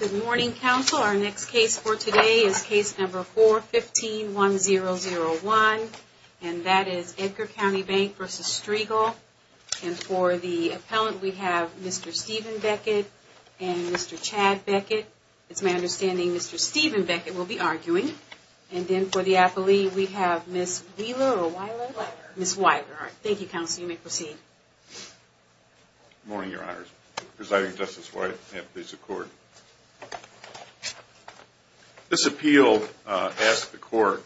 Good morning, counsel. Our next case for today is case number 4151001, and that is Edgar County Bank v. Striegel. And for the appellant, we have Mr. Stephen Beckett and Mr. Chad Beckett. It's my understanding Mr. Stephen Beckett will be arguing. And then for the appellee, we have Ms. Wieler. Thank you, counsel. You may proceed. Good morning, Your Honors. Presiding Justice White, I have a piece of court. This appeal asks the court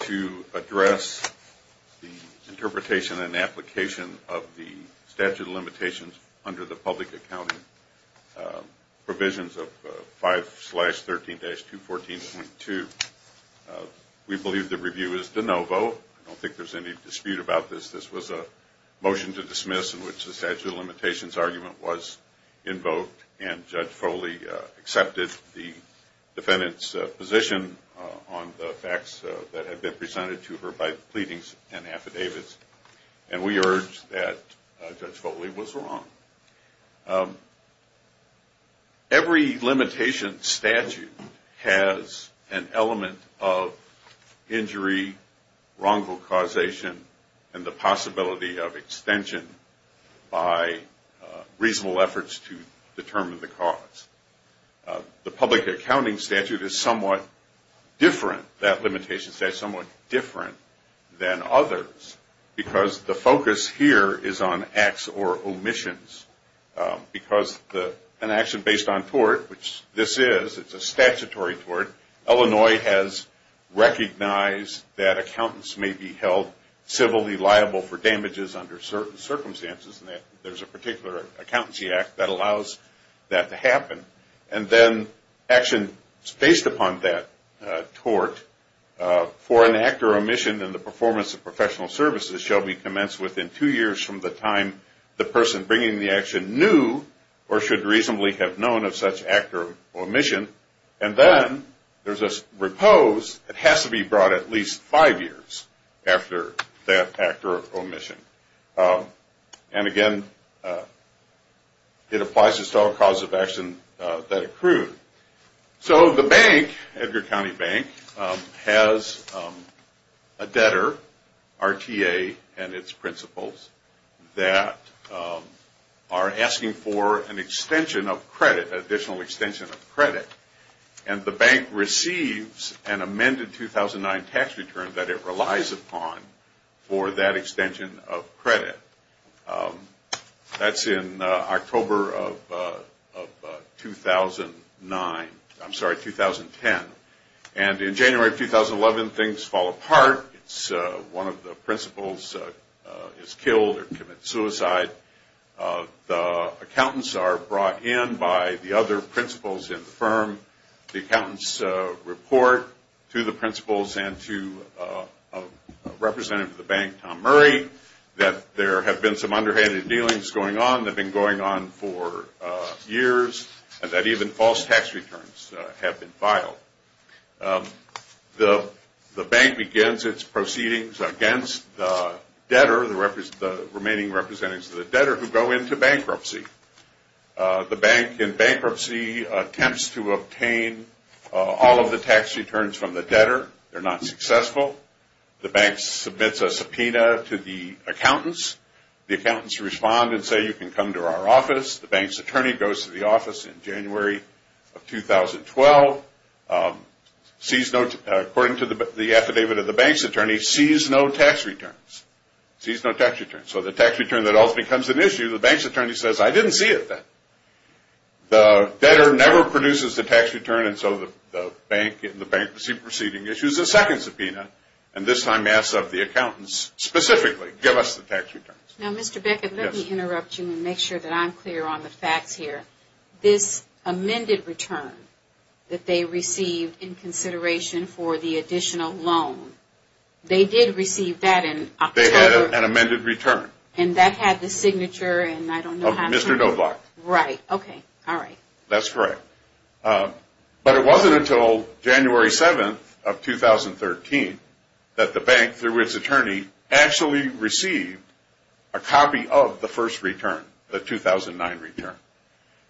to address the interpretation and application of the statute of limitations under the public accounting provisions of 5-13-214.2. We believe the review is de novo. I don't think there's any dispute about this. This was a motion to dismiss in which the statute of limitations argument was invoked, and Judge Foley accepted the defendant's position on the facts that had been presented to her by pleadings and affidavits. And we urge that Judge Foley was wrong. Every limitation statute has an element of injury, wrongful causation, and the possibility of extension by reasonable efforts to determine the cause. The public accounting statute is somewhat different. That limitation statute is somewhat different than others because the focus here is on acts or omissions. Because an action based on tort, which this is, it's a statutory tort, Illinois has recognized that accountants may be held civilly liable for damages under certain circumstances. There's a particular accountancy act that allows that to happen. And then actions based upon that tort for an act or omission in the performance of professional services shall be commenced within two years from the time the person bringing the action knew or should reasonably have known of such act or omission. And then there's a repose that has to be brought at least five years after that act or omission. And again, it applies to all causes of action that accrue. So the bank, Edgar County Bank, has a debtor, RTA and its principals, that are asking for an extension of credit, additional extension of credit. And the bank receives an amended 2009 tax return that it relies upon for that extension of credit. That's in October of 2009. I'm sorry, 2010. And in January of 2011, things fall apart. One of the principals is killed or commits suicide. The accountants are brought in by the other principals in the firm. The accountants report to the principals and to a representative of the bank, Tom Murray, that there have been some underhanded dealings going on that have been going on for years and that even false tax returns have been filed. The bank begins its proceedings against the debtor, the remaining representatives of the debtor, who go into bankruptcy. The bank, in bankruptcy, attempts to obtain all of the tax returns from the debtor. They're not successful. The bank submits a subpoena to the accountants. The accountants respond and say, you can come to our office. The bank's attorney goes to the office in January of 2012. According to the affidavit of the bank's attorney, sees no tax returns. So the tax return that ultimately becomes an issue, the bank's attorney says, I didn't see it then. The debtor never produces the tax return, and so the bank, in the bankruptcy proceeding, issues a second subpoena and this time asks of the accountants specifically, give us the tax returns. That's correct. But it wasn't until January 7th of 2013 that the bank, through its attorney, actually received a copy of the first return, the 2009 return.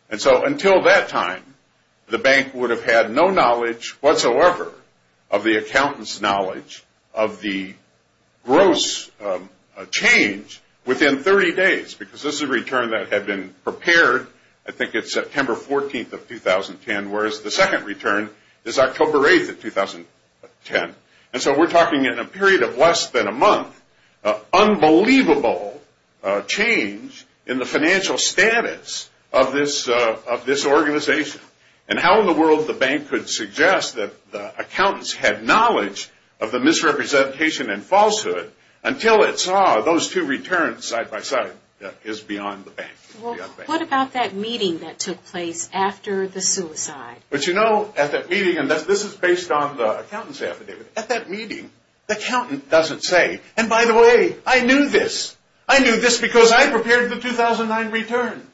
And so until that time, the bank would have had no knowledge whatsoever of the accountants' knowledge of the gross change within 30 days, because this is a return that had been prepared, I think it's September of 2013, whereas the second return is October 8th of 2010. And so we're talking in a period of less than a month, unbelievable change in the financial status of this organization. And how in the world the bank could suggest that the accountants had knowledge of the misrepresentation and falsehood until it saw those two returns side by side is beyond the bank. Well, what about that meeting that took place after the suicide? But you know, at that meeting, and this is based on the accountants' affidavit, at that meeting, the accountant doesn't say, and by the way, I knew this. I knew this because I prepared the 2009 return.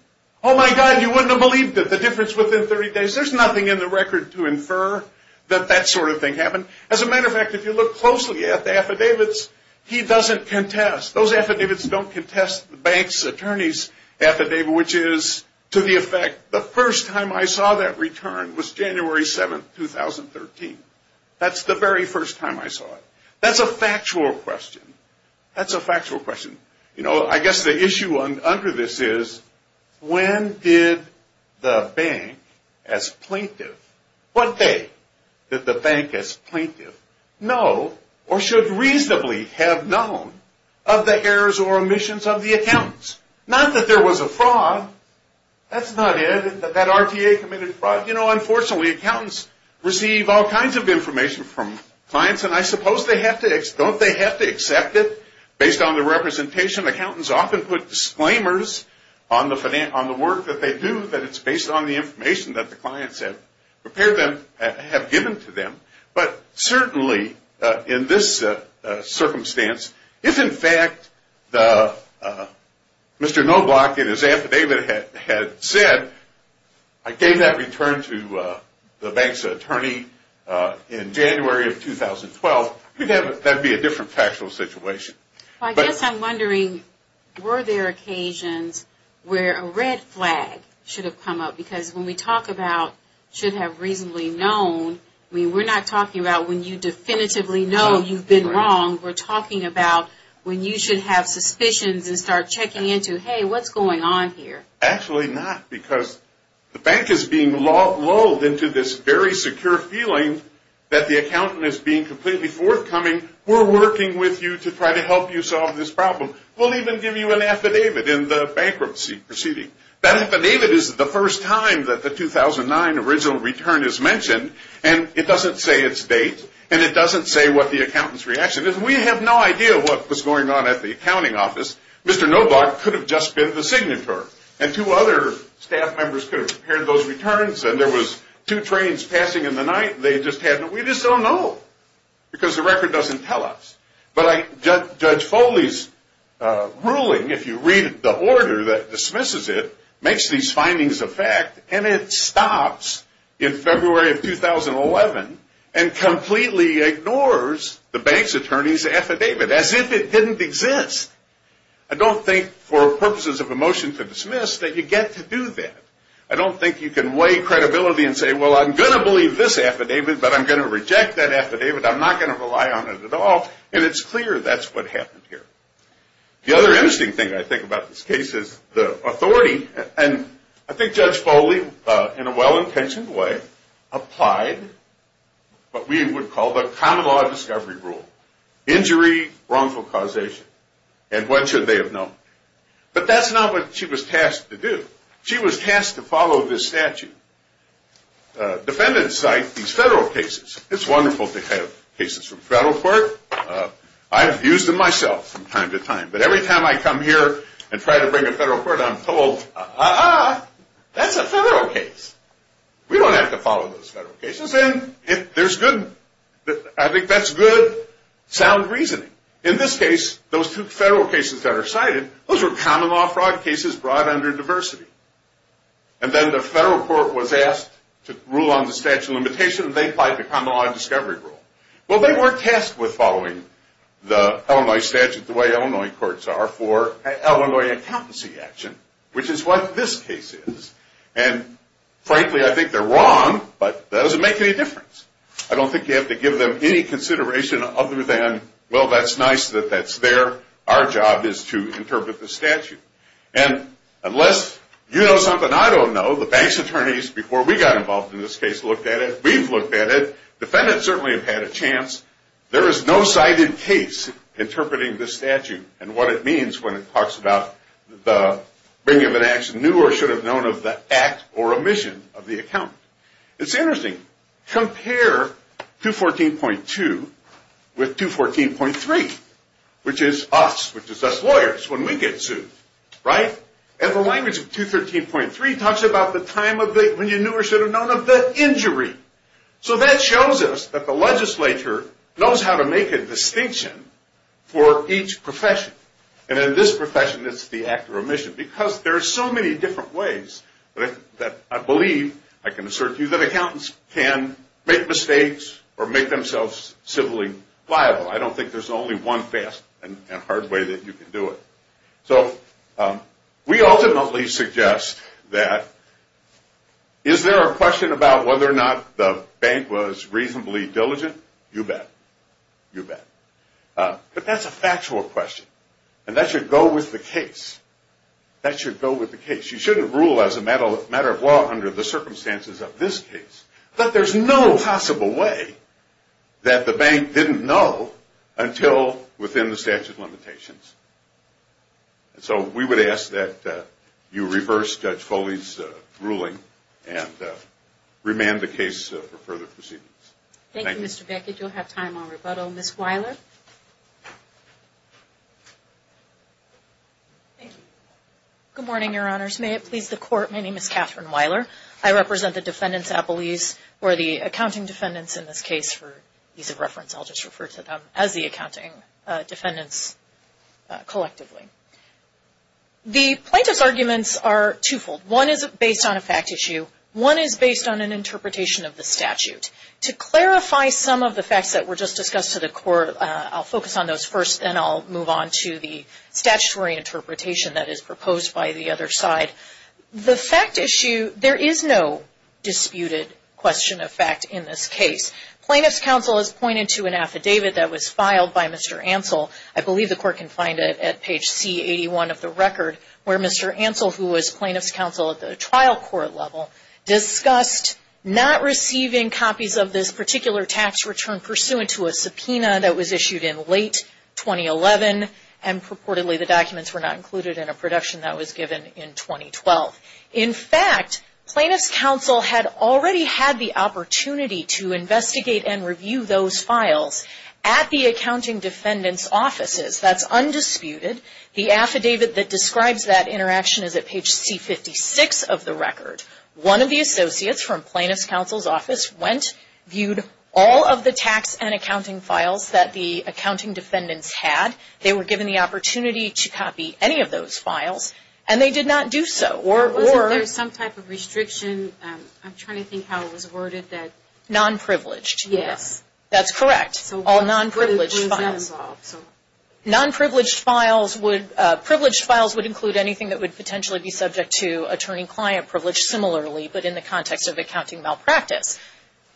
Oh my God, you wouldn't have believed it, the difference within 30 days. There's nothing in the record to infer that that sort of thing happened. As a matter of fact, if you look closely at the affidavits, he doesn't contest. Those affidavits don't contest the bank's attorney's affidavit, which is to the effect, the first time I saw that return was January 7th, 2013. That's the very first time I saw it. That's a factual question. That's a factual question. You know, I guess the issue under this is, when did the bank as plaintiff, what day did the bank as plaintiff know or should reasonably have known of the errors or omissions of the accountants? Not that there was a fraud. That's not it. That RTA committed fraud. Unfortunately, accountants receive all kinds of information from clients, and I suppose they have to, don't they have to accept it based on the representation? Accountants often put disclaimers on the work that they do that it's based on the information that the clients have prepared them, have given to them. But certainly, in this circumstance, if in fact Mr. Knobloch in his affidavit had said, I gave that return to the bank's attorney in January of 2012, that would be a different factual situation. I guess I'm wondering, were there occasions where a red flag should have come up? Because when we talk about should have reasonably known, we're not talking about when you definitively know you've been wrong. We're talking about when you should have suspicions and start checking into, hey, what's going on here? Actually not, because the bank is being lulled into this very secure feeling that the accountant is being completely forthcoming. We're working with you to try to help you solve this problem. We'll even give you an affidavit in the bankruptcy proceeding. That affidavit is the first time that the 2009 original return is mentioned, and it doesn't say its date, and it doesn't say what the accountant's reaction is. We have no idea what was going on at the accounting office. Mr. Knobloch could have just been the signatory, and two other staff members could have prepared those returns, and there was two trains passing in the night. We just don't know, because the record doesn't tell us. But Judge Foley's ruling, if you read the order that dismisses it, makes these findings a fact, and it stops in February of 2011 and completely ignores the bank's attorney's affidavit as if it didn't exist. I don't think for purposes of a motion to dismiss that you get to do that. I don't think you can weigh credibility and say, well, I'm going to believe this affidavit, but I'm going to reject that affidavit. I'm not going to rely on it at all, and it's clear that's what happened here. The other interesting thing I think about this case is the authority, and I think Judge Foley, in a well-intentioned way, applied what we would call the common law discovery rule. Injury, wrongful causation, and when should they have known? But that's not what she was tasked to do. She was tasked to follow this statute. Defendants cite these federal cases. It's wonderful to have cases from federal court. I've used them myself from time to time, but every time I come here and try to bring a federal court, I'm told, uh-uh, that's a federal case. We don't have to follow those federal cases, and I think that's good, sound reasoning. In this case, those two federal cases that are cited, those were common law fraud cases brought under diversity, and then the federal court was asked to rule on the statute of limitation, and they applied the common law discovery rule. Well, they weren't tasked with following the Illinois statute the way Illinois courts are for Illinois accountancy action, which is what this case is, and frankly, I think they're wrong, but that doesn't make any difference. I don't think you have to give them any consideration other than, well, that's nice that that's there. Our job is to interpret the statute. And unless you know something I don't know, the bank's attorneys, before we got involved in this case, looked at it. We've looked at it. Defendants certainly have had a chance. There is no cited case interpreting this statute and what it means when it talks about the bringing of an action new or should have known of the act or omission of the account. It's interesting. Compare 214.2 with 214.3, which is us, which is us lawyers when we get sued, right? And the language of 213.3 talks about the time of when you knew or should have known of the injury. So that shows us that the legislature knows how to make a distinction for each profession. And in this profession, it's the act or omission because there are so many different ways that I believe, I can assert to you, that accountants can make mistakes or make themselves civilly liable. I don't think there's only one fast and hard way that you can do it. So we ultimately suggest that is there a question about whether or not the bank was reasonably diligent? You bet. You bet. But that's a factual question. And that should go with the case. That should go with the case. You shouldn't rule as a matter of law under the circumstances of this case. But there's no possible way that the bank didn't know until within the statute of limitations. So we would ask that you reverse Judge Foley's ruling and remand the case for further proceedings. Thank you. Thank you, Mr. Beckett. You'll have time on rebuttal. Ms. Weiler? Good morning, Your Honors. May it please the Court, my name is Catherine Weiler. I represent the Defendants Appellees or the Accounting Defendants in this case. For ease of reference, I'll just refer to them as the Accounting Defendants collectively. The plaintiff's arguments are twofold. One is based on a fact issue. One is based on an interpretation of the statute. To clarify some of the facts that were just discussed to the Court, I'll focus on those first and then I'll move on to the statutory interpretation that is proposed by the other side. The fact issue, there is no disputed question of fact in this case. Plaintiff's counsel has pointed to an affidavit that was filed by Mr. Ansell. I believe the Court can find it at page C81 of the record where Mr. Ansell, who was plaintiff's counsel at the trial court level, discussed not receiving copies of this particular tax return pursuant to a subpoena that was issued in late 2011 and purportedly the documents were not included in a production that was given in 2012. In fact, plaintiff's counsel had already had the opportunity to investigate and review those files at the Accounting Defendant's offices. That's undisputed. The affidavit that describes that interaction is at page C56 of the record. One of the associates from plaintiff's counsel's office went, viewed all of the tax and accounting files that the Accounting Defendants had. They were given the opportunity to copy any of those files and they did not do so. There was some type of restriction. I'm trying to think how it was worded. Non-privileged. Yes. That's correct. All non-privileged files. Non-privileged files would include anything that would potentially be subject to attorney-client privilege similarly, but in the context of accounting malpractice.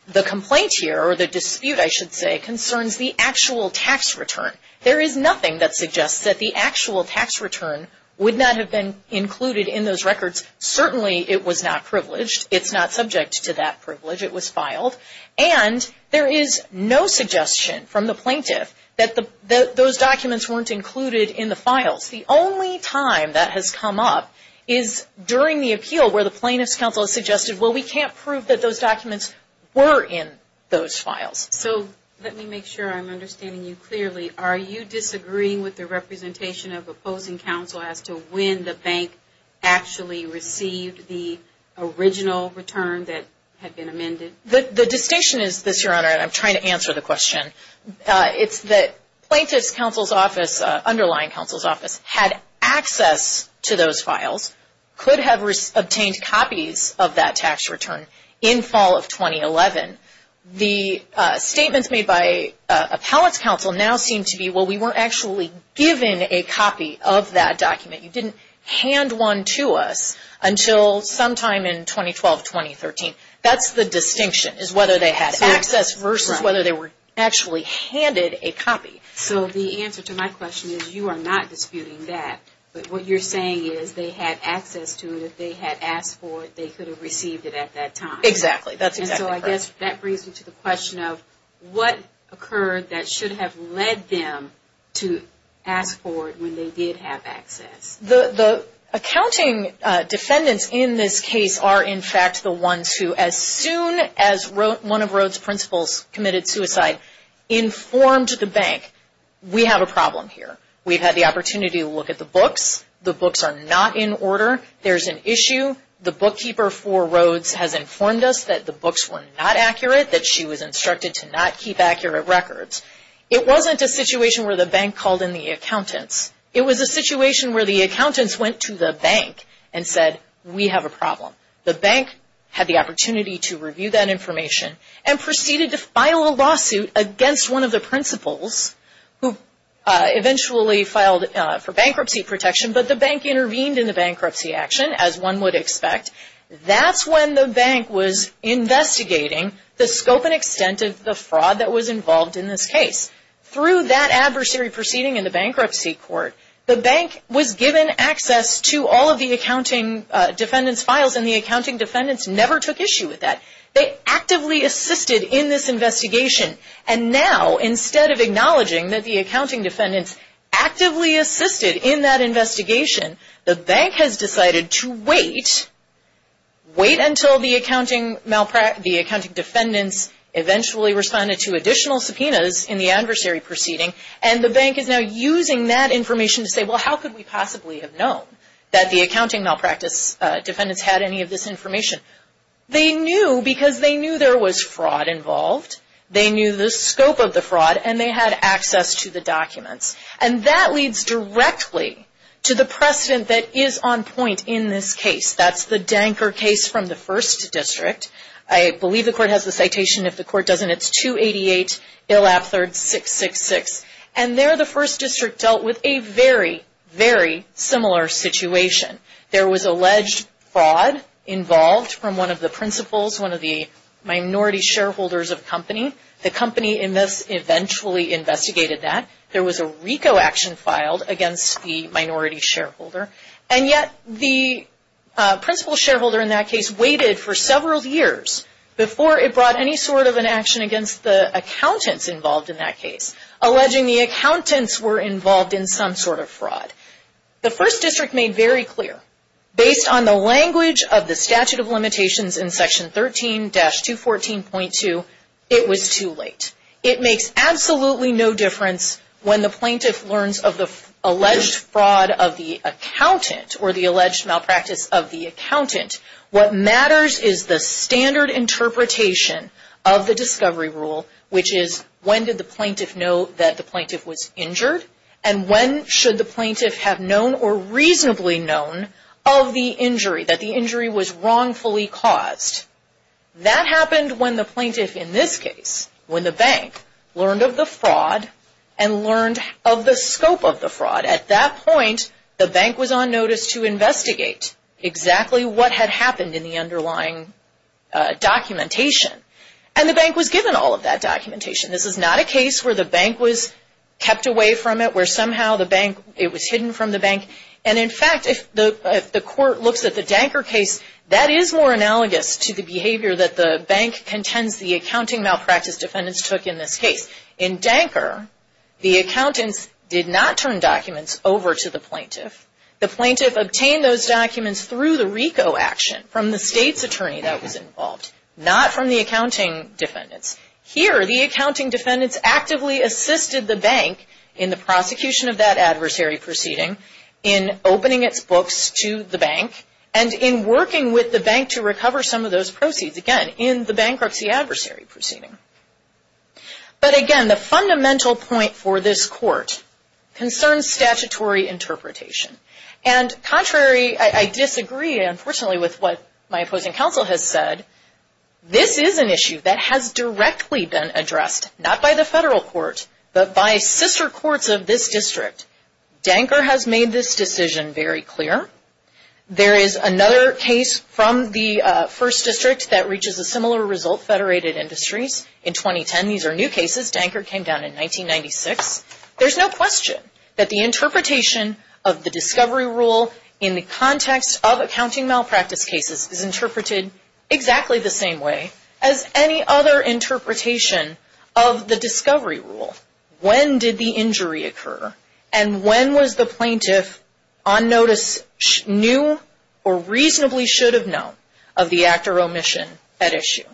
The complaint here, or the dispute I should say, concerns the actual tax return. There is nothing that suggests that the actual tax return would not have been included in those records. Certainly, it was not privileged. It's not subject to that privilege. It was filed. And there is no suggestion from the plaintiff that those documents weren't included in the files. The only time that has come up is during the appeal where the plaintiff's counsel has suggested, well, we can't prove that those documents were in those files. So, let me make sure I'm understanding you clearly. Are you disagreeing with the representation of opposing counsel as to when the bank actually received the original return that had been amended? The distinction is this, Your Honor, and I'm trying to answer the question. It's that plaintiff's counsel's office, underlying counsel's office, had access to those files, could have obtained copies of that tax return in fall of 2011. The statements made by appellate's counsel now seem to be, well, we weren't actually given a copy of that document. You didn't hand one to us until sometime in 2012, 2013. That's the distinction, is whether they had access versus whether they were actually handed a copy. So, the answer to my question is you are not disputing that. But what you're saying is they had access to it. If they had asked for it, they could have received it at that time. Exactly. That's exactly correct. So, I guess that brings me to the question of what occurred that should have led them to ask for it when they did have access. The accounting defendants in this case are, in fact, the ones who, as soon as one of Rhodes' principals committed suicide, informed the bank, we have a problem here. We've had the opportunity to look at the books. The books are not in order. There's an issue. The bookkeeper for Rhodes has informed us that the books were not accurate, that she was instructed to not keep accurate records. It wasn't a situation where the bank called in the accountants. It was a situation where the accountants went to the bank and said, we have a problem. The bank had the opportunity to review that information and proceeded to file a lawsuit against one of the principals who eventually filed for bankruptcy protection. But the bank intervened in the bankruptcy action, as one would expect. That's when the bank was investigating the scope and extent of the fraud that was involved in this case. Through that adversary proceeding in the bankruptcy court, the bank was given access to all of the accounting defendants' files, and the accounting defendants never took issue with that. They actively assisted in this investigation. And now, instead of acknowledging that the accounting defendants actively assisted in that investigation, the bank has decided to wait, wait until the accounting defendants eventually responded to additional subpoenas in the adversary proceeding, and the bank is now using that information to say, well, how could we possibly have known that the accounting malpractice defendants had any of this information? They knew because they knew there was fraud involved. They knew the scope of the fraud, and they had access to the documents. And that leads directly to the precedent that is on point in this case. That's the Danker case from the First District. I believe the court has the citation. If the court doesn't, it's 288 Illapthird 666. And there, the First District dealt with a very, very similar situation. There was alleged fraud involved from one of the principals, one of the minority shareholders of the company. The company eventually investigated that. There was a RICO action filed against the minority shareholder. And yet, the principal shareholder in that case waited for several years before it brought any sort of an action against the accountants involved in that case, alleging the accountants were involved in some sort of fraud. The First District made very clear, based on the language of the statute of limitations in Section 13-214.2, it was too late. It makes absolutely no difference when the plaintiff learns of the alleged fraud of the accountant or the alleged malpractice of the accountant. What matters is the standard interpretation of the discovery rule, which is, when did the plaintiff know that the plaintiff was injured? And when should the plaintiff have known or reasonably known of the injury, that the injury was wrongfully caused? That happened when the plaintiff, in this case, when the bank, learned of the fraud and learned of the scope of the fraud. At that point, the bank was on notice to investigate exactly what had happened in the underlying documentation. And the bank was given all of that documentation. This is not a case where the bank was kept away from it, where somehow the bank, it was hidden from the bank. And, in fact, if the court looks at the Danker case, that is more analogous to the behavior that the bank contends the accounting malpractice defendants took in this case. In Danker, the accountants did not turn documents over to the plaintiff. The plaintiff obtained those documents through the RICO action from the state's attorney that was involved, not from the accounting defendants. Here, the accounting defendants actively assisted the bank in the prosecution of that adversary proceeding, in opening its books to the bank, and in working with the bank to recover some of those proceeds, again, in the bankruptcy adversary proceeding. But, again, the fundamental point for this court concerns statutory interpretation. And, contrary, I disagree, unfortunately, with what my opposing counsel has said. This is an issue that has directly been addressed, not by the federal court, but by sister courts of this district. Danker has made this decision very clear. There is another case from the First District that reaches a similar result, Federated Industries, in 2010. These are new cases. Danker came down in 1996. There's no question that the interpretation of the discovery rule in the context of accounting malpractice cases is interpreted exactly the same way as any other interpretation of the discovery rule. When did the injury occur? And when was the plaintiff, on notice, knew or reasonably should have known of the actor omission at issue?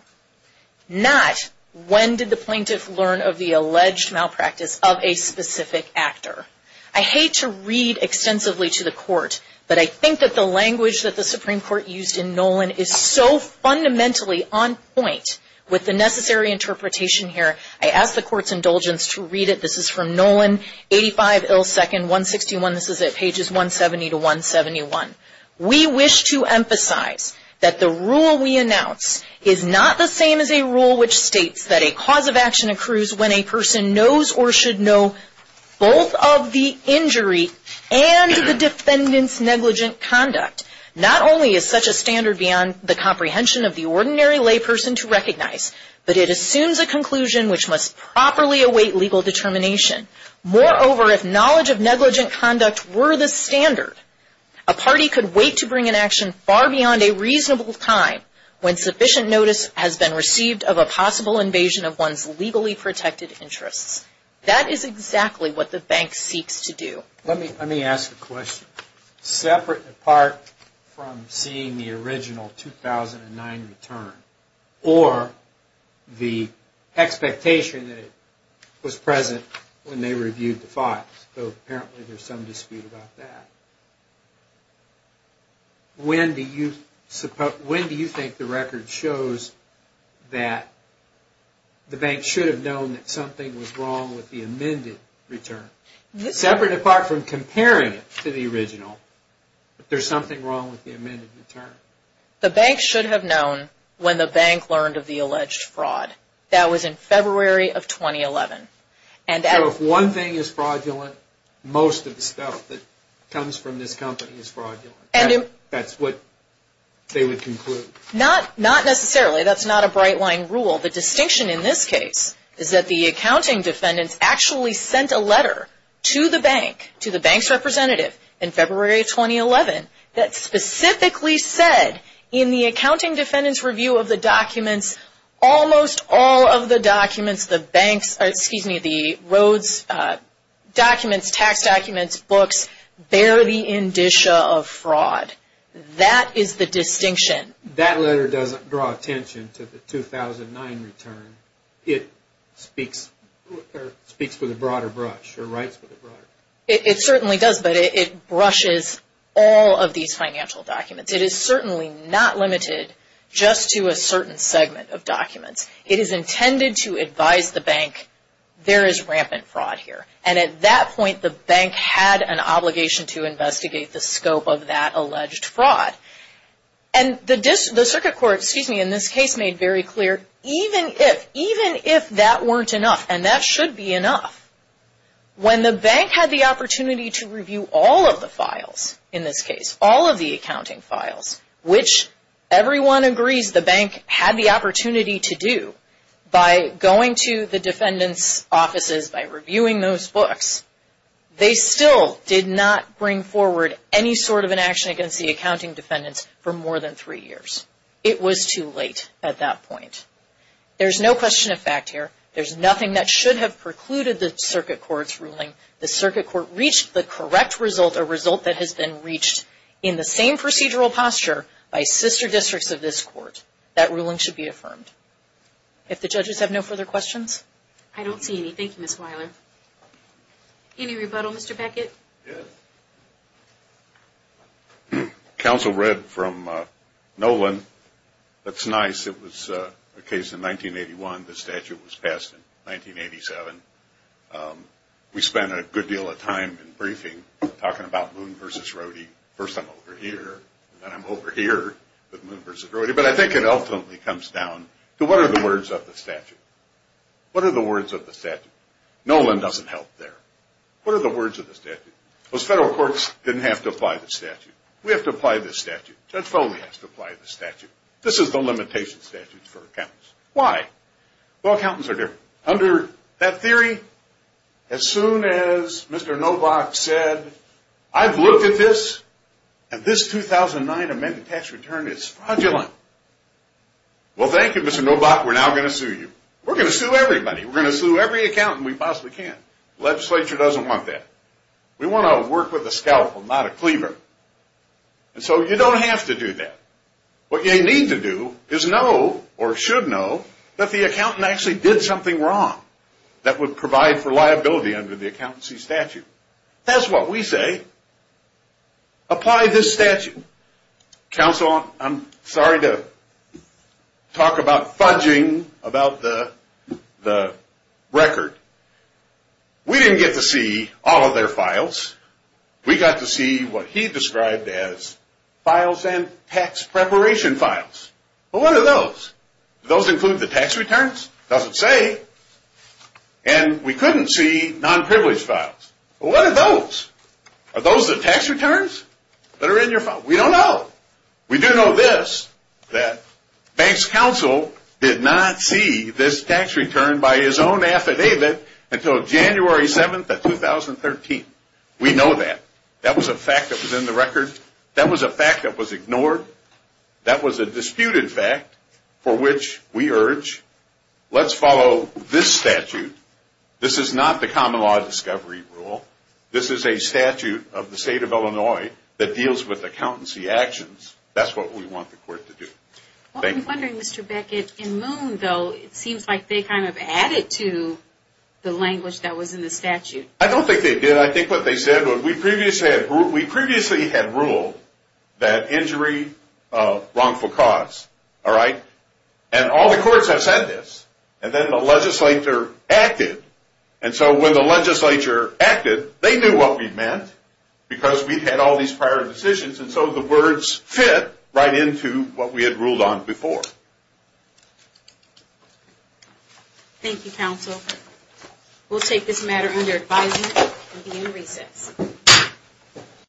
Not, when did the plaintiff learn of the alleged malpractice of a specific actor? I hate to read extensively to the court, but I think that the language that the Supreme Court used in Nolan is so fundamentally on point with the necessary interpretation here, I ask the court's indulgence to read it. This is from Nolan, 85 ill second, 161. This is at pages 170 to 171. We wish to emphasize that the rule we announce is not the same as a rule which states that a cause of action accrues when a person knows or should know both of the injury and the defendant's negligent conduct. Not only is such a standard beyond the comprehension of the ordinary layperson to recognize, but it assumes a conclusion which must properly await legal determination. Moreover, if knowledge of negligent conduct were the standard, a party could wait to bring an action far beyond a reasonable time when sufficient notice has been received of a possible invasion of one's legally protected interests. That is exactly what the bank seeks to do. Let me ask a question. Separate and apart from seeing the original 2009 return, or the expectation that it was present when they reviewed the files, though apparently there's some dispute about that, when do you think the record shows that the bank should have known that something was wrong with the amended return? Separate and apart from comparing it to the original, but there's something wrong with the amended return. The bank should have known when the bank learned of the alleged fraud. That was in February of 2011. So if one thing is fraudulent, most of the stuff that comes from this company is fraudulent. That's what they would conclude. Not necessarily. That's not a bright-line rule. The distinction in this case is that the accounting defendants actually sent a letter to the bank, to the bank's representative in February of 2011, that specifically said in the accounting defendant's review of the documents, almost all of the documents, the banks, excuse me, the roads documents, tax documents, books, bear the indicia of fraud. That is the distinction. That letter doesn't draw attention to the 2009 return. It speaks with a broader brush, or writes with a broader brush. It certainly does, but it brushes all of these financial documents. It is certainly not limited just to a certain segment of documents. It is intended to advise the bank, there is rampant fraud here. And at that point, the bank had an obligation to investigate the scope of that alleged fraud. And the circuit court, excuse me, in this case made very clear, even if that weren't enough, and that should be enough, when the bank had the opportunity to review all of the files in this case, all of the accounting files, which everyone agrees the bank had the opportunity to do, by going to the defendant's offices, by reviewing those books, they still did not bring forward any sort of an action against the accounting defendants for more than three years. It was too late at that point. There is no question of fact here. The circuit court reached the correct result, a result that has been reached in the same procedural posture by sister districts of this court. That ruling should be affirmed. If the judges have no further questions. I don't see any. Thank you, Ms. Wyler. Any rebuttal, Mr. Beckett? Yes. Counsel read from Nolan. That's nice. It was a case in 1981. The statute was passed in 1987. We spent a good deal of time in briefing talking about Moon v. Rohde. First I'm over here, and then I'm over here with Moon v. Rohde. But I think it ultimately comes down to what are the words of the statute? What are the words of the statute? Nolan doesn't help there. What are the words of the statute? Those federal courts didn't have to apply the statute. We have to apply the statute. Judge Foley has to apply the statute. This is the limitation statute for accountants. Why? Well, accountants are different. Under that theory, as soon as Mr. Nobach said, I've looked at this, and this 2009 amended tax return is fraudulent. Well, thank you, Mr. Nobach, we're now going to sue you. We're going to sue everybody. We're going to sue every accountant we possibly can. The legislature doesn't want that. We want to work with a scalpel, not a cleaver. And so you don't have to do that. What you need to do is know or should know that the accountant actually did something wrong that would provide for liability under the accountancy statute. That's what we say. Apply this statute. Counsel, I'm sorry to talk about fudging about the record. We didn't get to see all of their files. We got to see what he described as files and tax preparation files. Well, what are those? Do those include the tax returns? It doesn't say. And we couldn't see nonprivileged files. Well, what are those? Are those the tax returns that are in your file? We don't know. We do know this, that banks counsel did not see this tax return by his own We know that. That was a fact that was in the record. That was a fact that was ignored. That was a disputed fact for which we urge let's follow this statute. This is not the common law discovery rule. This is a statute of the state of Illinois that deals with accountancy actions. That's what we want the court to do. Well, I'm wondering, Mr. Beckett, in Moon, though, it seems like they kind of added to the language that was in the statute. I don't think they did. I think what they said was we previously had ruled that injury wrongful cause. All right? And all the courts have said this. And then the legislature acted. And so when the legislature acted, they knew what we meant because we had all these prior decisions. And so the words fit right into what we had ruled on before. Thank you, counsel. We'll take this matter under advisement and begin recess.